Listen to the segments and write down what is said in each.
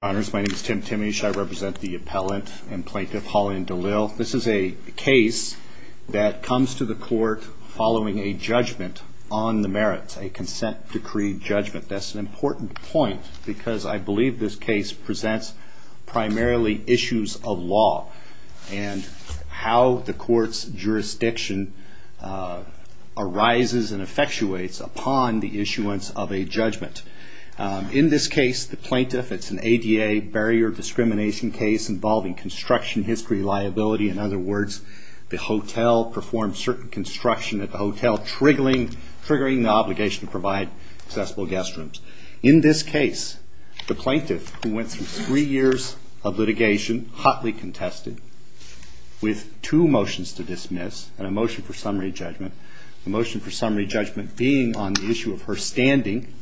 Honors, my name is Tim Timmish. I represent the appellant and plaintiff, Holland D'Lil. This is a case that comes to the court following a judgment on the merits, a consent decree judgment. That's an important point because I believe this case presents primarily issues of law and how the court's jurisdiction arises and effectuates upon the issuance of a judgment. In this case, the plaintiff, it's an ADA barrier discrimination case involving construction history liability. In other words, the hotel performed certain construction at the hotel triggering the obligation to provide accessible guest rooms. In this case, the plaintiff, who went through three years of litigation, hotly contested, with two motions to dismiss and a motion for summary judgment. The motion for summary judgment being on the issue of her standing,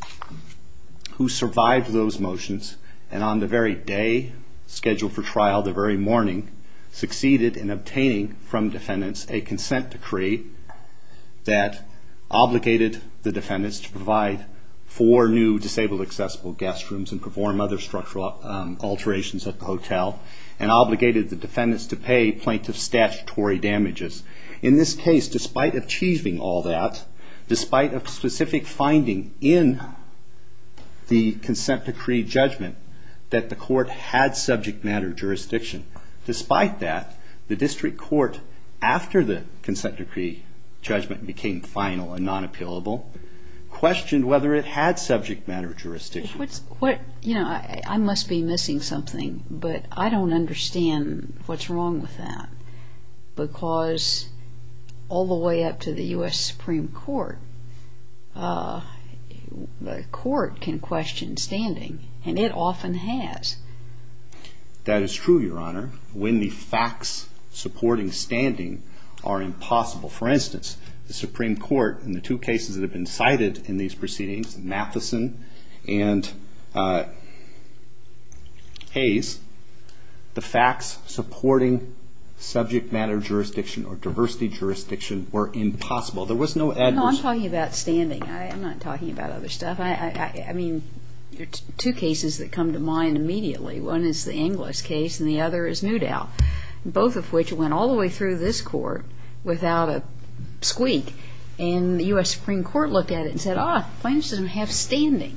who survived those motions and on the very day scheduled for trial, the very morning, succeeded in obtaining from defendants a consent decree that obligated the defendants to provide four new disabled accessible guest rooms and perform other structural alterations at the hotel and obligated the defendants to pay plaintiff statutory damages. In this case, despite achieving all that, despite a specific finding in the consent decree judgment that the court had subject matter jurisdiction, despite that, the district court, after the consent decree judgment became final and non-appealable, questioned whether it had subject matter jurisdiction. I must be missing something, but I don't understand what's wrong with that because all the way up to the U.S. Supreme Court, the court can question standing and it often has. That is true, Your Honor, when the facts supporting standing are impossible. For instance, the Supreme Court, in the two cases that have been cited in these proceedings, Matheson and Hayes, the facts supporting subject matter jurisdiction or diversity jurisdiction were impossible. There was no adverse... No, I'm talking about standing. I'm not talking about other stuff. I mean, there are two cases that come to mind immediately. One is the Inglis case and the other is Newdow, both of which went all the way through this court without a squeak and the U.S. Supreme Court looked at it and said, ah, plaintiffs don't have standing.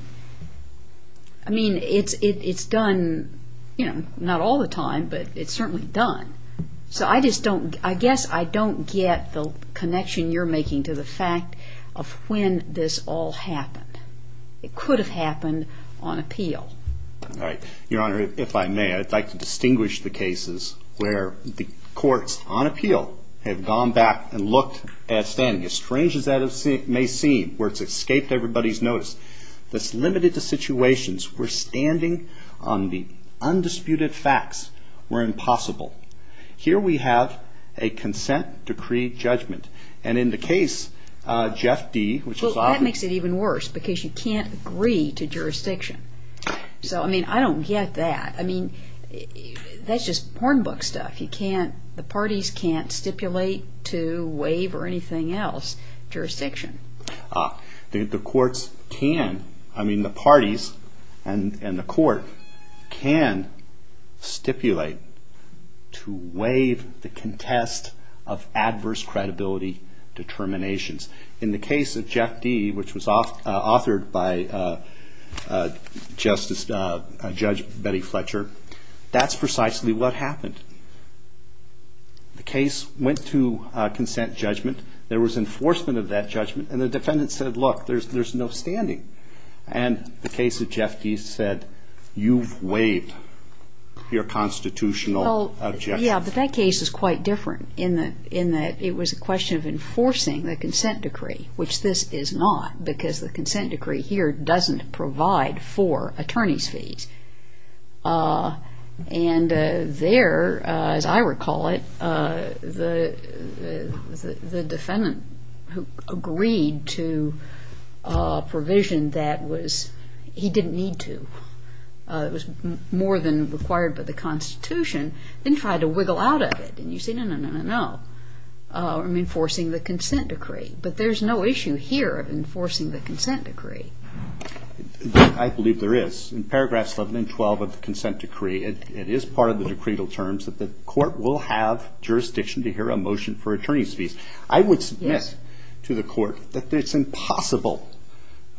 I mean, it's done, you know, not all the time, but it's certainly done. So I just don't, I guess I don't get the connection you're making to the fact of when this all happened. It could have happened on appeal. All right. Your Honor, if I may, I'd like to distinguish the cases where the courts on appeal have gone back and looked at standing. As strange as that may seem, where it's escaped everybody's notice, that's limited to Here we have a consent decree judgment. And in the case, Jeff D., which is obvious... Well, that makes it even worse, because you can't agree to jurisdiction. So, I mean, I don't get that. I mean, that's just porn book stuff. You can't, the parties can't stipulate to waive or anything else jurisdiction. The courts can. I mean, the parties and the court can stipulate to waive the contest of adverse credibility determinations. In the case of Jeff D., which was authored by Justice, Judge Betty Fletcher, that's precisely what happened. The case went to consent judgment. There was enforcement of that judgment. And the defendant said, look, there's no standing. And the case of Jeff D. said, you've waived your constitutional objection. Well, yeah, but that case is quite different in that it was a question of enforcing the consent decree, which this is not, because the consent decree here doesn't provide for attorney's fees. And there, as I recall it, the court agreed to a provision that was, he didn't need to. It was more than required by the Constitution. Then he tried to wiggle out of it. And you say, no, no, no, no, no. I'm enforcing the consent decree. But there's no issue here of enforcing the consent decree. I believe there is. In paragraphs 11 and 12 of the consent decree, it is part of the decreed terms that the court will have jurisdiction to hear a motion for attorney's fees. I would submit to the court that it's impossible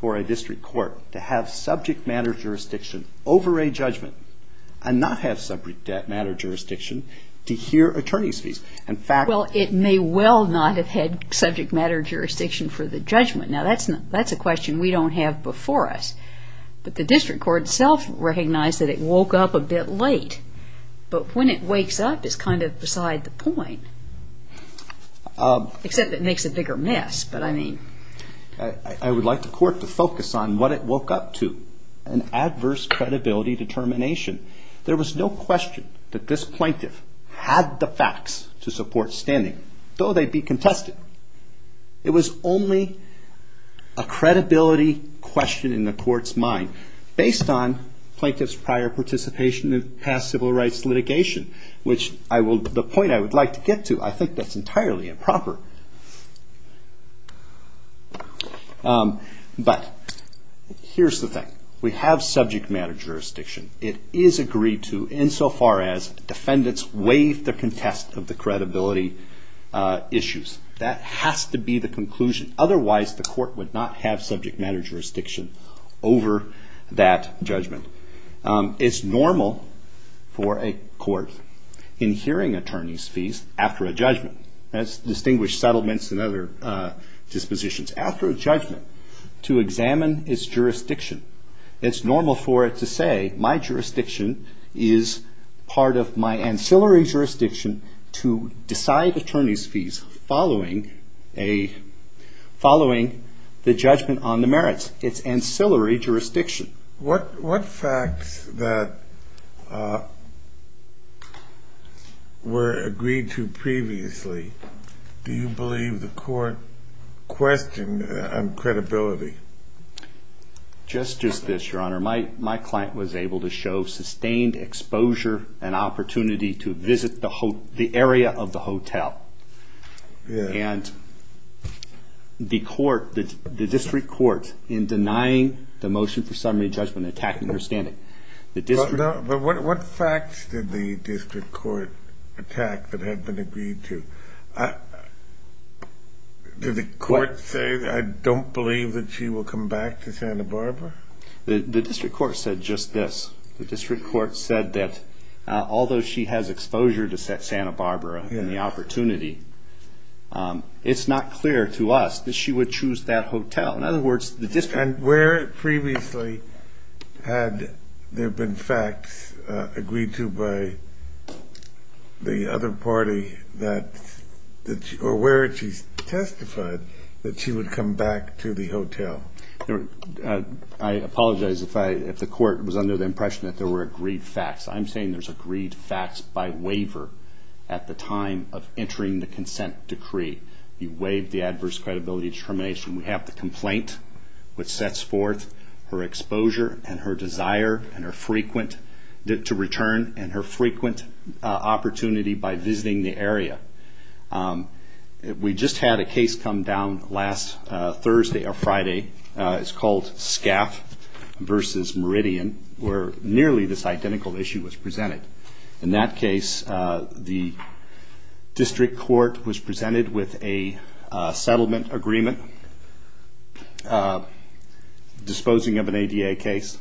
for a district court to have subject matter jurisdiction over a judgment and not have subject matter jurisdiction to hear attorney's fees. In fact, it may well not have had subject matter jurisdiction for the judgment. Now, that's a question we don't have before us. But the district court itself recognized that it woke up a bit late. But when it wakes up, it's kind of beside the point. Except it makes a bigger mess. But I mean. I would like the court to focus on what it woke up to, an adverse credibility determination. There was no question that this plaintiff had the facts to support standing, though they'd be contested. It was only a credibility question in the court's mind based on plaintiff's prior participation in past civil rights litigation. The point I would like to get to, I think that's entirely improper. But here's the thing. We have subject matter jurisdiction. It is agreed to insofar as defendants waive the contest of the credibility issues. That has to be the conclusion. Otherwise, the court would not have subject matter jurisdiction over that judgment. It's normal for a court in hearing attorney's fees after a judgment. That's distinguished settlements and other dispositions. After a judgment, to examine its jurisdiction, it's normal for it to say, my jurisdiction is part of my ancillary jurisdiction to decide attorney's fees following the judgment on the merits. It's ancillary jurisdiction. What facts that were agreed to previously do you believe the court questioned on credibility? Just this, Your Honor. My client was able to show sustained exposure and court in denying the motion for summary judgment and attacking her standing. But what facts did the district court attack that had been agreed to? Did the court say, I don't believe that she will come back to Santa Barbara? The district court said just this. The district court said that although she has exposure to Santa Barbara and the opportunity, it's not clear to us that she would choose that hotel. In other words, the district court... And where previously had there been facts agreed to by the other party that, or where had she testified that she would come back to the hotel? I apologize if the court was under the impression that there were agreed facts. I'm saying there's agreed facts by waiver at the time of entering the consent decree. You waive the adverse credibility determination. We have the complaint which sets forth her exposure and her desire to return and her frequent opportunity by visiting the area. We just had a case come down last Thursday or Friday. It's called Scaff versus Meridian, where nearly this identical issue was presented. In that case, the district court was presented with a settlement agreement disposing of an ADA case.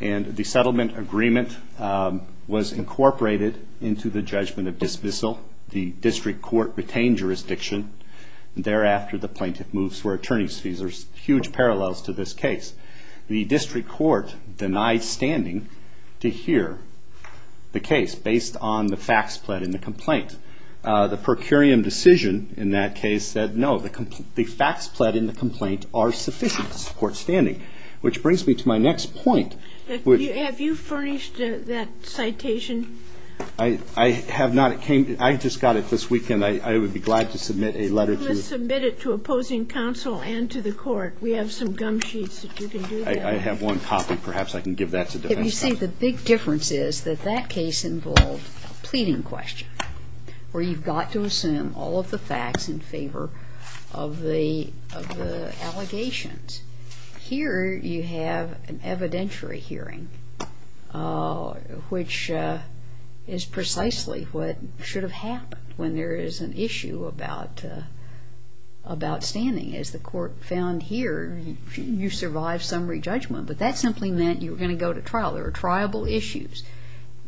The settlement agreement was incorporated into the judgment of dismissal. The district court retained jurisdiction. Thereafter, the plaintiff moves for attorney's fees. There's huge parallels to this case. The district court denied standing to hear the case based on the facts pled in the complaint. The per curiam decision in that case said no, the facts pled in the complaint are sufficient to support standing. Which brings me to my next point. Have you furnished that citation? I have not. I just got it this weekend. I would be glad to submit a letter to... Let's submit it to opposing counsel and to the court. We have some gum sheets if you can do that. I have one copy. Perhaps I can give that to defense counsel. The big difference is that that case involved a pleading question where you've got to assume all of the facts in favor of the allegations. Here you have an evidentiary hearing, which is precisely what should have happened when there is an issue about standing. As the court found here, you survived summary judgment, but that simply meant you were going to go to trial. There were triable issues.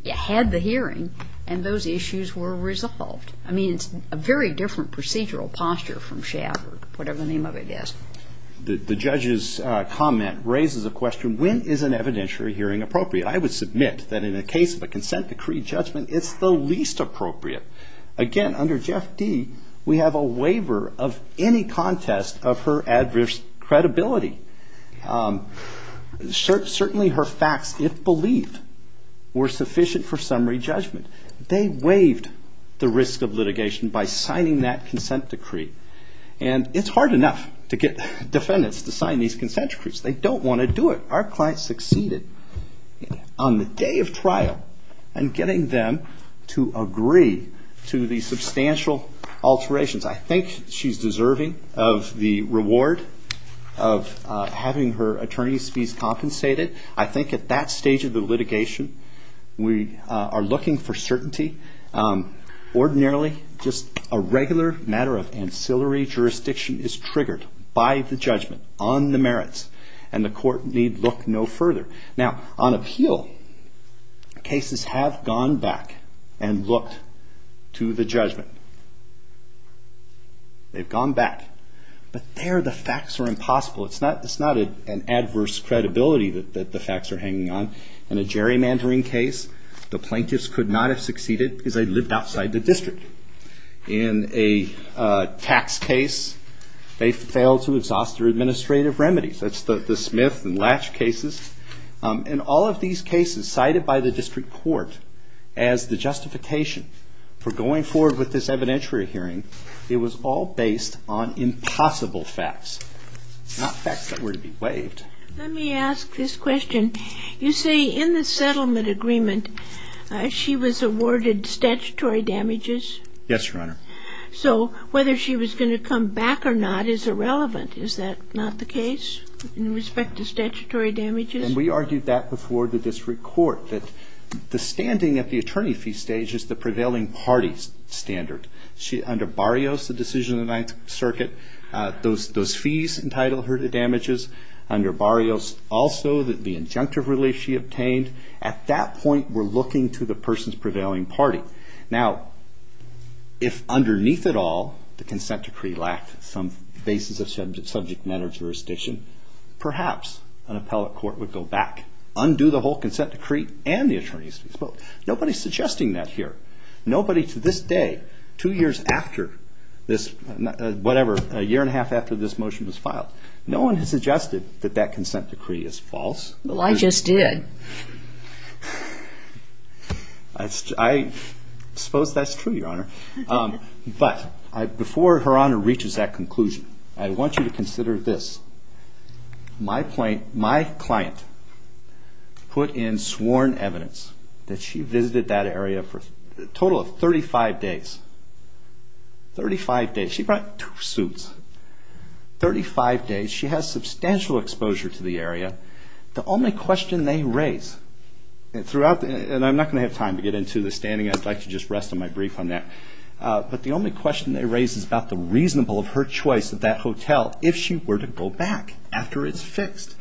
You had the hearing, and those issues were resolved. It's a very different procedural posture from SHAP or whatever the name of it is. The judge's comment raises a question, when is an evidentiary hearing appropriate? I would submit that in a case of a consent decree judgment, it's the least appropriate. Again, under Jeff D., we have a waiver of any contest of her adverse credibility. Certainly her facts, if believed, were sufficient for summary judgment. They waived the risk of litigation by signing that consent decree. It's hard enough to get defendants to sign these consent decrees. They don't want to do it. Our client succeeded on the day of trial in getting them to agree to the substantial alterations. I think she's deserving of the reward of having her attorney's fees compensated. I think at that stage of the litigation, we are looking for certainty. Ordinarily, just a regular matter of ancillary jurisdiction is triggered by the judgment on the merits, and the court need look no further. On appeal, cases have gone back and looked to the judgment. They've gone back. But there, the facts are impossible. It's not an adverse credibility that the facts are hanging on. In a gerrymandering case, the plaintiffs could not have succeeded because they lived outside the district. In a tax case, they failed to exhaust their administrative remedies. That's the Smith and Latch cases. In all of these cases cited by the district court as the justification for going forward with this evidentiary hearing, it was all based on impossible facts, not facts that were to be waived. Let me ask this question. You say in the settlement agreement, she was awarded statutory damages? Yes, Your Honor. So whether she was going to come back or not is irrelevant. Is that not the case in respect to statutory damages? And we argued that before the district court, that the standing at the attorney fee stage is the prevailing party's standard. Under Barrios, the decision of the Ninth Circuit, those fees entitled her to damages. Under Barrios, also, the injunctive relief she obtained. At that point, we're looking to the person's prevailing party. Now, if underneath it all, the jurisdiction, perhaps an appellate court would go back. Undo the whole consent decree and the attorney's fees. Nobody's suggesting that here. Nobody to this day, two years after this, whatever, a year and a half after this motion was filed, no one has suggested that that consent decree is false. Well, I just did. I suppose that's true, Your Honor. But before Her Honor reaches that stage, my client put in sworn evidence that she visited that area for a total of 35 days. 35 days. She brought two suits. 35 days. She has substantial exposure to the area. The only question they raise, and I'm not going to have time to get into the standing. I'd like to just rest on my brief on that. But the only question they raise is about the reasonable of her choice of that hotel if she were to go back after it's fixed.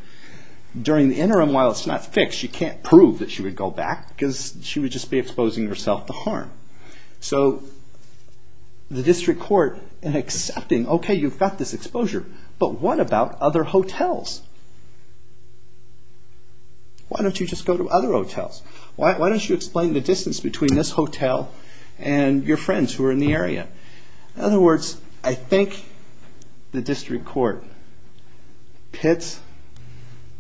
During the interim, while it's not fixed, she can't prove that she would go back because she would just be exposing herself to harm. So the district court in accepting, okay, you've got this exposure, but what about other hotels? Why don't you just go to other hotels? Why don't you explain the distance between this The district court pits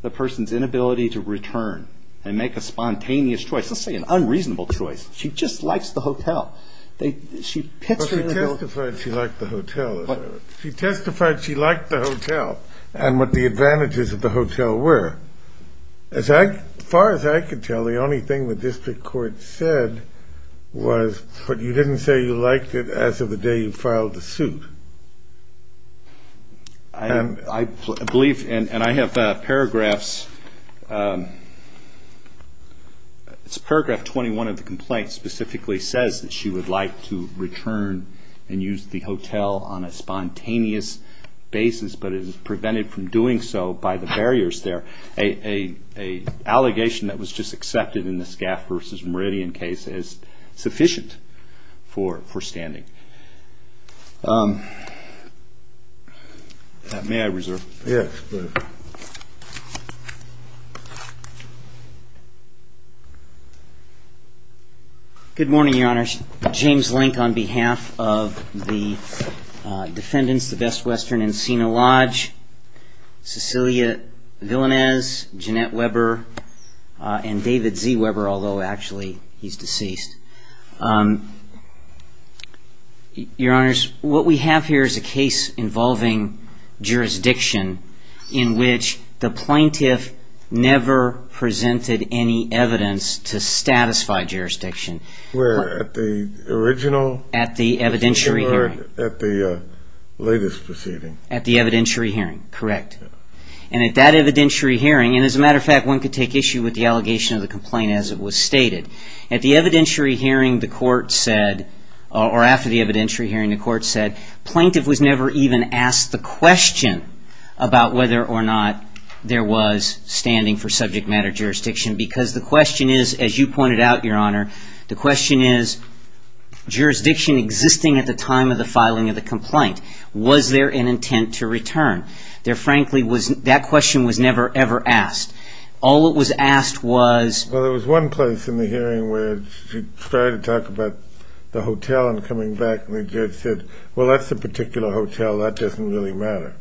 the person's inability to return and make a spontaneous choice. Let's say an unreasonable choice. She just likes the hotel. She pits her in the middle. But she testified she liked the hotel. She testified she liked the hotel and what the advantages of the hotel were. As far as I could tell, the only thing the district court said was, but you didn't say you liked it as of the day you filed the suit. I believe, and I have paragraphs, it's paragraph 21 of the complaint specifically says that she would like to return and use the hotel on a spontaneous basis, but it is prevented from doing so by the barriers there. A allegation that was just accepted in the Skaff versus Meridian case is sufficient for standing. May I reserve? Yes, please. Good morning, Your Honor. James Link on behalf of the defendants, the Best Western and Sina Lodge, Cecilia Villanez, Jeanette Weber, and David Z. Weber, although actually he's deceased. Your Honors, what we have here is a case involving jurisdiction in which the plaintiff never presented any evidence to satisfy jurisdiction. Where at the original? At the evidentiary hearing. Or at the latest proceeding? At the evidentiary hearing, correct. And at that evidentiary hearing, and as a matter of fact, one could take issue with the allegation of the complaint as it was stated. At the evidentiary hearing, the court said, or after the evidentiary hearing, the court said, plaintiff was never even asked the question about whether or not there was standing for subject matter jurisdiction because the question is, as you pointed out, Your Honor, the question is, jurisdiction existing at the time of the filing of the complaint, was there an intent to return? There frankly was, that question was never ever asked. All that was asked was. Well, there was one place in the hearing where she tried to talk about the hotel and coming back, and the judge said, well, that's a particular hotel, that doesn't really matter.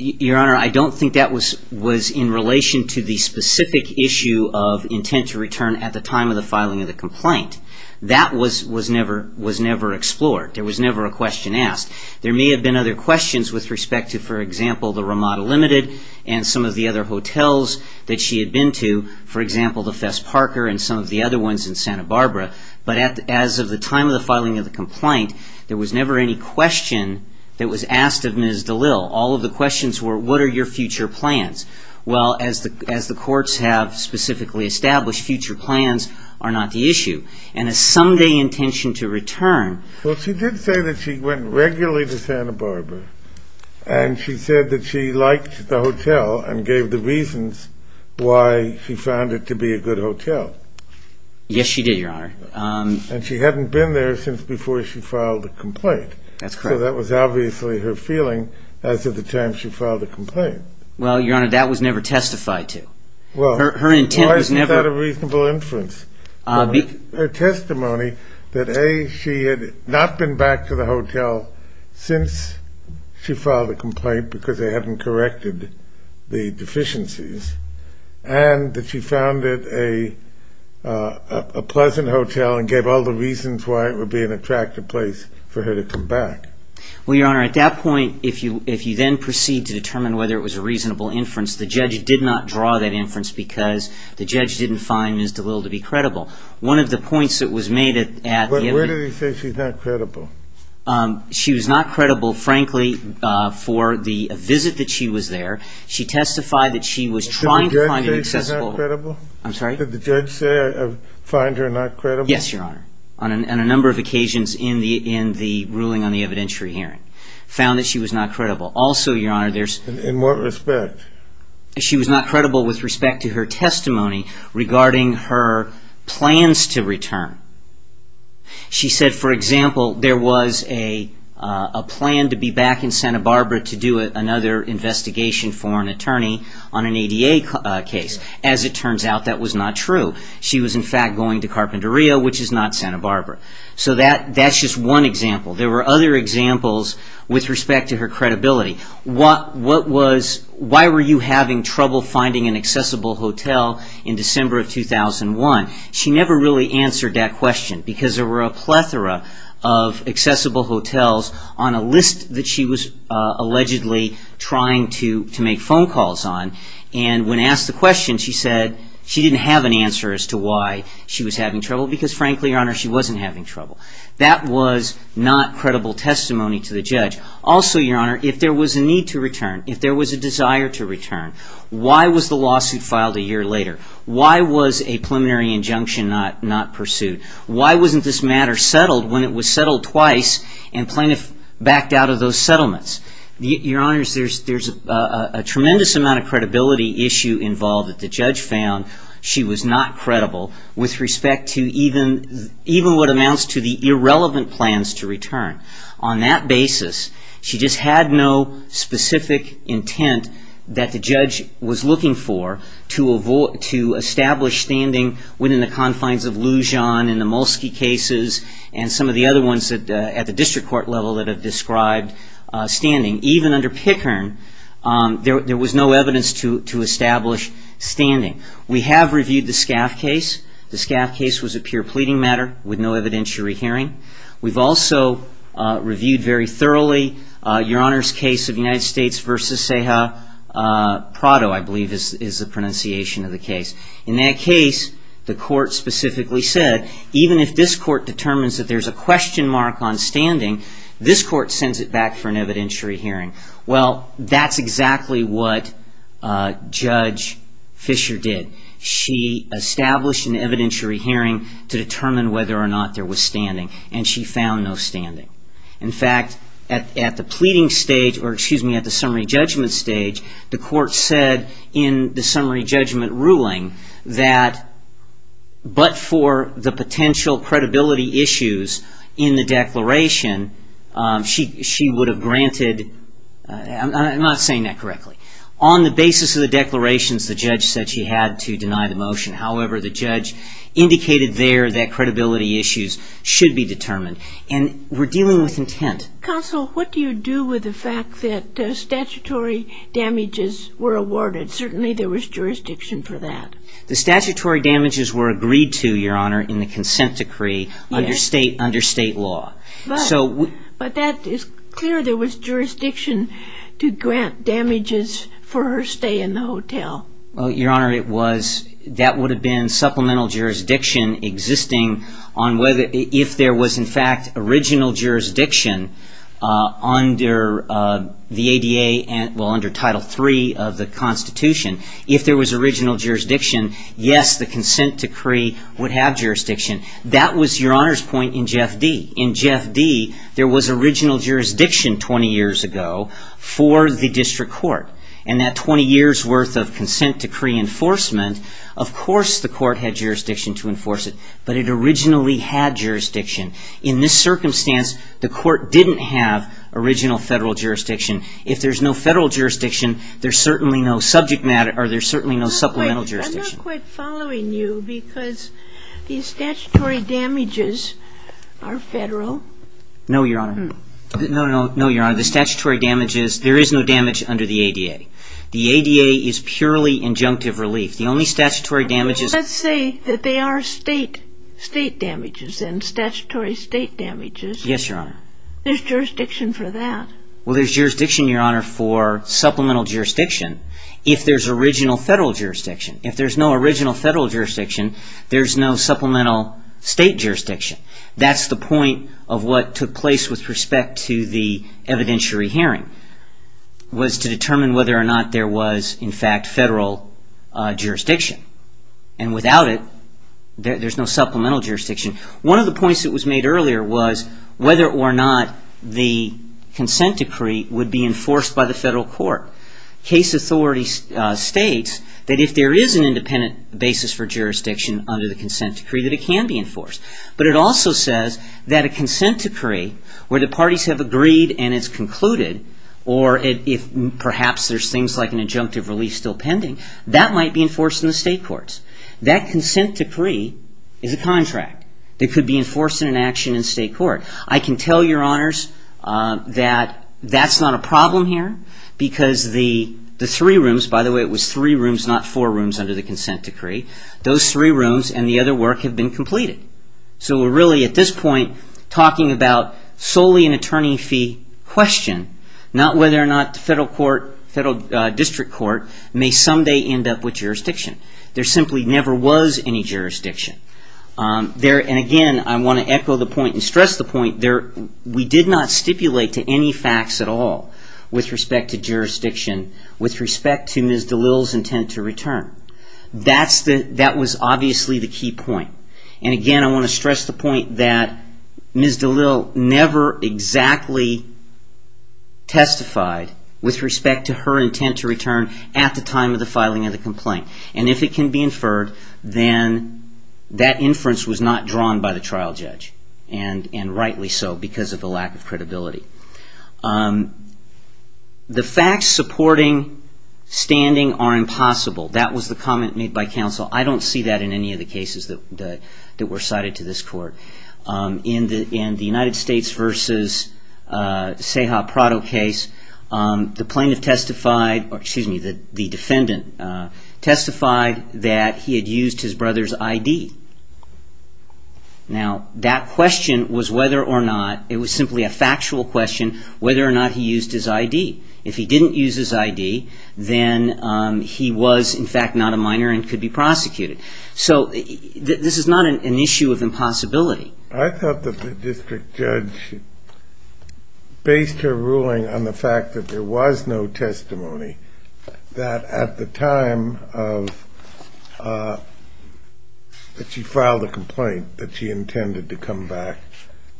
Your Honor, I don't think that was in relation to the specific issue of intent to return at the time of the filing of the complaint. That was never explored. There was never a question asked. There may have been other questions with respect to, for example, the Ramada Limited and some of the other hotels that she had been to, for example, the Fess Parker and some of the other ones in Santa Barbara, but as of the time of the filing of the complaint, there was never any question that was asked of Ms. DeLille. All of the questions were, what are your future plans? Well, as the courts have specifically established, future plans are not the issue, and a someday intention to return. Well, she did say that she went regularly to Santa Barbara, and she said that she liked the hotel and gave the reasons why she found it to be a good hotel. Yes, she did, Your Honor. And she hadn't been there since before she filed the complaint. That's correct. So that was obviously her feeling as of the time she filed the complaint. Well, Your Honor, that was never testified to. Well, her intent was never... Why is that a reasonable inference? Her testimony that, A, she had not been back to the hotel since she filed the complaint because they hadn't corrected the deficiencies, and that she found it a pleasant hotel and gave all the reasons why it would be an attractive place for her to come back. Well, Your Honor, at that point, if you then proceed to determine whether it was a reasonable inference, the judge did not draw that inference because the judge didn't find Ms. DeLille to be credible. One of the points that was made at the... But where did he say she's not credible? She was not credible, frankly, for the visit that she was there. She testified that she was trying to find an accessible... Did the judge say she's not credible? I'm sorry? Did the judge say, find her not credible? Yes, Your Honor, on a number of occasions in the ruling on the evidentiary hearing, found that she was not credible. Also, Your Honor, there's... In what respect? She was not credible with respect to her testimony regarding her plans to return. She said, for example, there was a plan to be back in Santa Barbara to do another investigation for an attorney on an ADA case. As it turns out, that was not true. She was, in fact, going to Carpinteria, which is not Santa Barbara. So that's just one example. There were other examples with respect to her credibility. Why were you having trouble finding an accessible hotel in December of 2001? She never really answered that question because there were a plethora of accessible hotels on a list that she was allegedly trying to make phone calls on. And when asked the question, she said she didn't have an answer as to why she was having trouble because, frankly, Your Honor, she wasn't having trouble. That was not credible testimony to the judge. Also, Your Honor, if there was a need to return, if there was a desire to return, why was the lawsuit filed a year later? Why was a preliminary injunction not pursued? Why wasn't this matter settled when it was settled twice and plaintiff backed out of those settlements? Your Honor, there's a tremendous amount of credibility issue involved that the judge found she was not credible with respect to even what amounts to the irrelevant plans to return. On that basis, she just had no specific intent that the judge was looking for to establish standing within the confines of Lujan and the Mulsky cases and some of the other ones at the district court level that have described standing. Even under Pickern, there was no evidence to establish standing. We have reviewed the Scaff case. The Scaff case was a pure pleading matter with no evidentiary hearing. We've also reviewed very thoroughly Your Honor's case of United States v. Ceja Prado, I believe is the pronunciation of the case. In that case, the court specifically said, even if this court determines that there's a question mark on standing, this court sends it back for an evidentiary hearing. Well, that's exactly what Judge Fisher did. She established an opinion on whether or not there was standing and she found no standing. In fact, at the pleading stage, or excuse me, at the summary judgment stage, the court said in the summary judgment ruling that but for the potential credibility issues in the declaration, she would have granted, I'm not saying that correctly, on the basis of the declarations, the judge said she had to deny the motion. However, the judge indicated there that credibility issues should be determined. And we're dealing with intent. Counsel, what do you do with the fact that statutory damages were awarded? Certainly there was jurisdiction for that. The statutory damages were agreed to, Your Honor, in the consent decree under state law. But that is clear there was jurisdiction to grant damages for her stay in the hotel. Well, Your Honor, that would have been supplemental jurisdiction existing on whether, if there was in fact original jurisdiction under the ADA, well, under Title III of the Constitution, if there was original jurisdiction, yes, the consent decree would have jurisdiction. That was Your Honor's point in Jeff D. In Jeff D., there was original jurisdiction 20 years ago for the district court. And that 20 years' worth of consent decree enforcement, of course the court had jurisdiction to enforce it. But it originally had jurisdiction. In this circumstance, the court didn't have original federal jurisdiction. If there's no federal jurisdiction, there's certainly no subject matter or there's certainly no supplemental jurisdiction. I'm not quite following you because the statutory damages are federal. No, Your Honor. No, Your Honor, the statutory damages, there is no damage under the ADA. The ADA is purely injunctive relief. The only statutory damages... But let's say that they are state damages and statutory state damages. Yes, Your Honor. There's jurisdiction for that. Well, there's jurisdiction, Your Honor, for supplemental jurisdiction if there's original federal jurisdiction. If there's no original federal jurisdiction, there's no supplemental state jurisdiction. That's the point of what took place with respect to the evidentiary hearing, was to determine whether or not there was, in fact, federal jurisdiction. And without it, there's no supplemental jurisdiction. One of the points that was made earlier was whether or not the consent decree would be enforced by the federal court. Case authority states that if there is an independent basis for jurisdiction under the consent decree, that it can be enforced. But it also says that a consent decree where the parties have agreed and it's concluded, or if perhaps there's things like an injunctive relief still pending, that might be enforced in the state courts. That consent decree is a contract that could be enforced in an action in state court. I can tell Your Honors that that's not a problem here because the three rooms, by the way, it was three rooms, not four rooms under the consent decree, those three rooms and the other work have been completed. So we're really, at this point, talking about solely an attorney fee question, not whether or not the federal district court may someday end up with jurisdiction. There simply never was any jurisdiction. And again, I want to echo the point and stress the point, we did not stipulate to any facts at all with respect to jurisdiction, with respect to Ms. DeLille's intent to return. That was obviously the key point. And again, I want to stress the point that Ms. DeLille never exactly testified with respect to her intent to return at the time of the filing of the complaint. And if it can be inferred, then that inference was not drawn by the trial judge, and rightly so because of the lack of credibility. The facts supporting standing are impossible. That was the case that were cited to this court. In the United States versus Seha Prado case, the plaintiff testified, excuse me, the defendant testified that he had used his brother's ID. Now, that question was whether or not, it was simply a factual question, whether or not he used his ID. If he didn't use his ID, then he was, in fact, not a minor and could be charged with a felony. This is not an issue of impossibility. I thought that the district judge based her ruling on the fact that there was no testimony that at the time of, that she filed a complaint, that she intended to come back,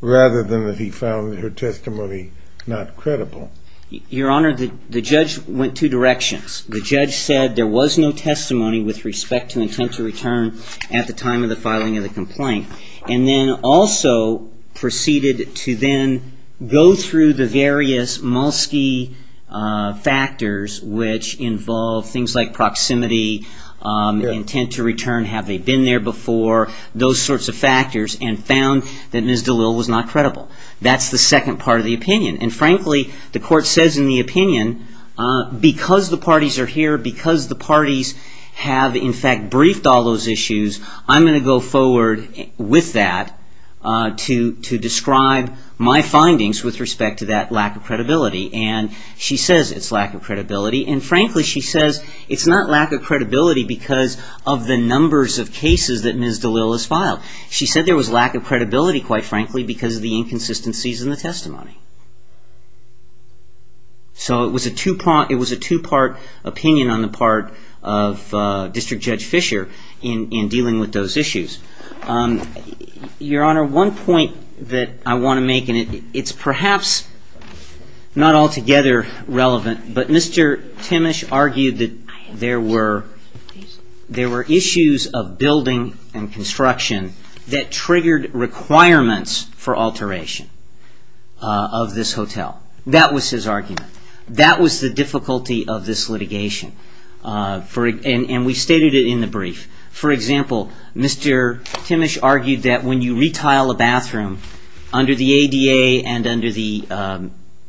rather than that he found her testimony not credible. Your Honor, the judge went two directions. The judge said there was no testimony with respect to intent to return at the time of the filing of the complaint, and then also proceeded to then go through the various Molsky factors, which involve things like proximity, intent to return, have they been there before, those sorts of factors, and found that Ms. DeLille was not credible. That's the second part of the opinion. I'm going to go forward with that to describe my findings with respect to that lack of credibility. She says it's lack of credibility, and frankly, she says it's not lack of credibility because of the numbers of cases that Ms. DeLille has filed. She said there was lack of credibility, quite frankly, because of the inconsistencies in the testimony. So it was a two-part opinion on the part of District Judge Fisher in dealing with those issues. Your Honor, one point that I want to make, and it's perhaps not altogether relevant, but Mr. Timmish argued that there were issues of building and construction that triggered requirements for alteration of this hotel. That was his argument. That was the difficulty of this litigation, and we stated it in the brief. For example, Mr. Timmish argued that when you retile a bathroom under the ADA and under the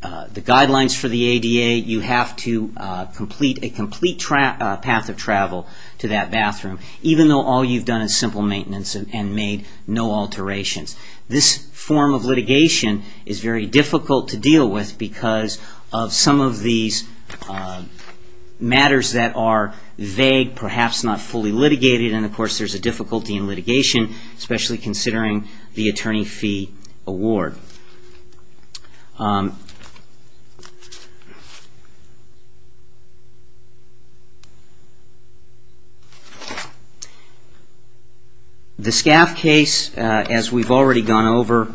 guidelines for the ADA, you have to complete a complete path of travel to that bathroom, even though all you've done is simple maintenance and made no alterations. This form of litigation is very difficult to deal with because of some of these matters that are vague, perhaps not fully litigated, and of course there's a difficulty in litigation, especially considering the attorney fee award. The SCAF case, as we've already gone over,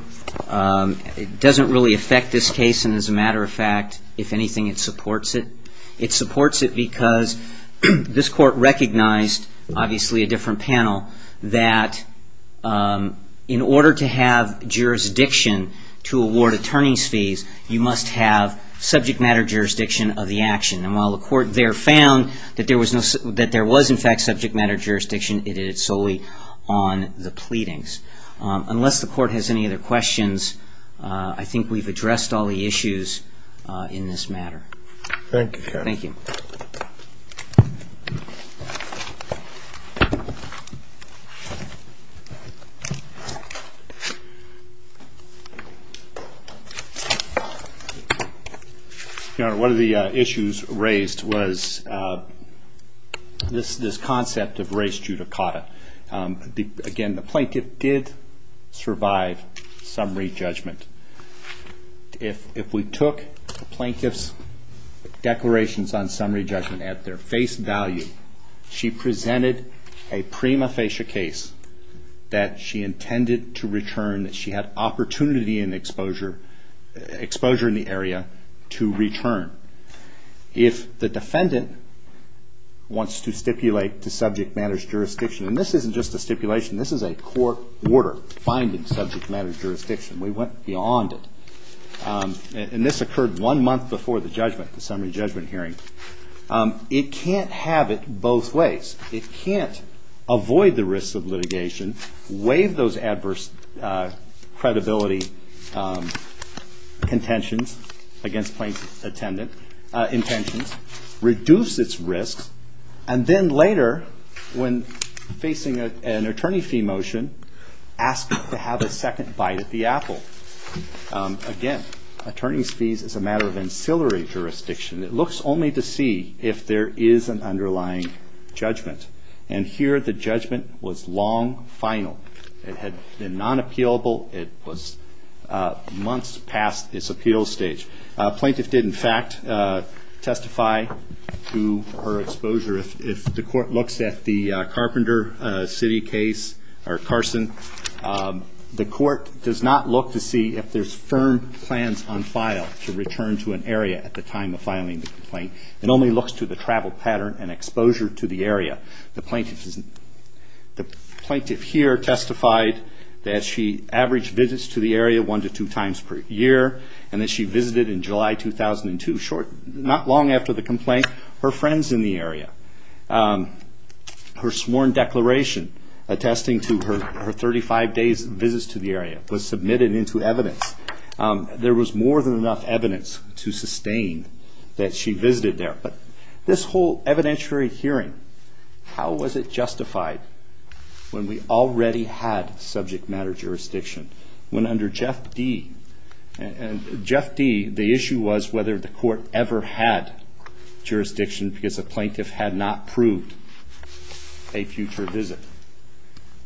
doesn't really affect this case, and as a matter of fact, if anything, it supports it. It supports it because this Court recognized, obviously a different panel, that in order to have jurisdiction to award attorney's fees, you must have subject matter jurisdiction of the action, and while the Court there found that there was, in fact, subject matter jurisdiction, it is solely on the pleadings. Unless the Court has any other questions, I think we've addressed all the issues in this matter. Your Honor, one of the issues raised was this concept of race judicata. Again, the plaintiff did survive summary judgment. If we took the plaintiff's declarations on summary judgment at their face value, she presented a prima facie case that she intended to return, that she had opportunity and exposure in the area to return. If the defendant wants to stipulate to subject matter's jurisdiction, and this isn't just a stipulation, this is a court order finding subject matter's jurisdiction, we went beyond it. This occurred one month before the summary judgment hearing. It can't have it both ways. It can't avoid the risks of litigation, waive those adverse credibility contentions against plaintiff's intentions, reduce its risks, and then later, when facing an attorney fee motion, ask to have a second bite at the apple. Again, attorney's fees is a matter of ancillary jurisdiction. It looks only to see if there is an underlying judgment. Here, the judgment was long final. It had been non-appealable. It was months past its appeal stage. Plaintiff did, in fact, testify to her exposure. If the court looks at the Carpenter City case, or Carson, the court does not look to see if there's firm plans on file to return to an attorney filing the complaint. It only looks to the travel pattern and exposure to the area. The plaintiff here testified that she averaged visits to the area one to two times per year, and that she visited in July 2002, not long after the complaint, her friends in the area. Her sworn declaration attesting to her 35 days' visits to the area was submitted into evidence. There was more than enough evidence to sustain that she visited there. But this whole evidentiary hearing, how was it justified when we already had subject matter jurisdiction? When under Jeff D, the issue was whether the court ever had jurisdiction because the plaintiff had not proved a future visit.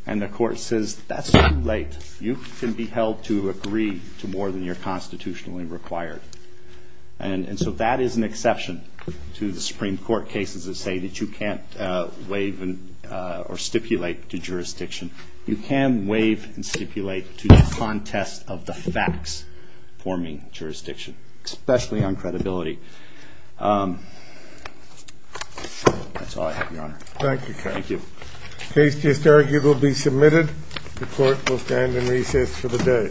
And the court says, that's too late. You can be held to agree to more than you're constitutionally required. And so that is an exception to the Supreme Court cases that say that you can't waive or stipulate to jurisdiction. You can waive and stipulate to the contest of the facts forming jurisdiction, especially on credibility. That's all I have, Your Honor. Thank you, Kevin. Thank you. Case to be submitted. The court will stand in recess for the day. Thank you. Thank you.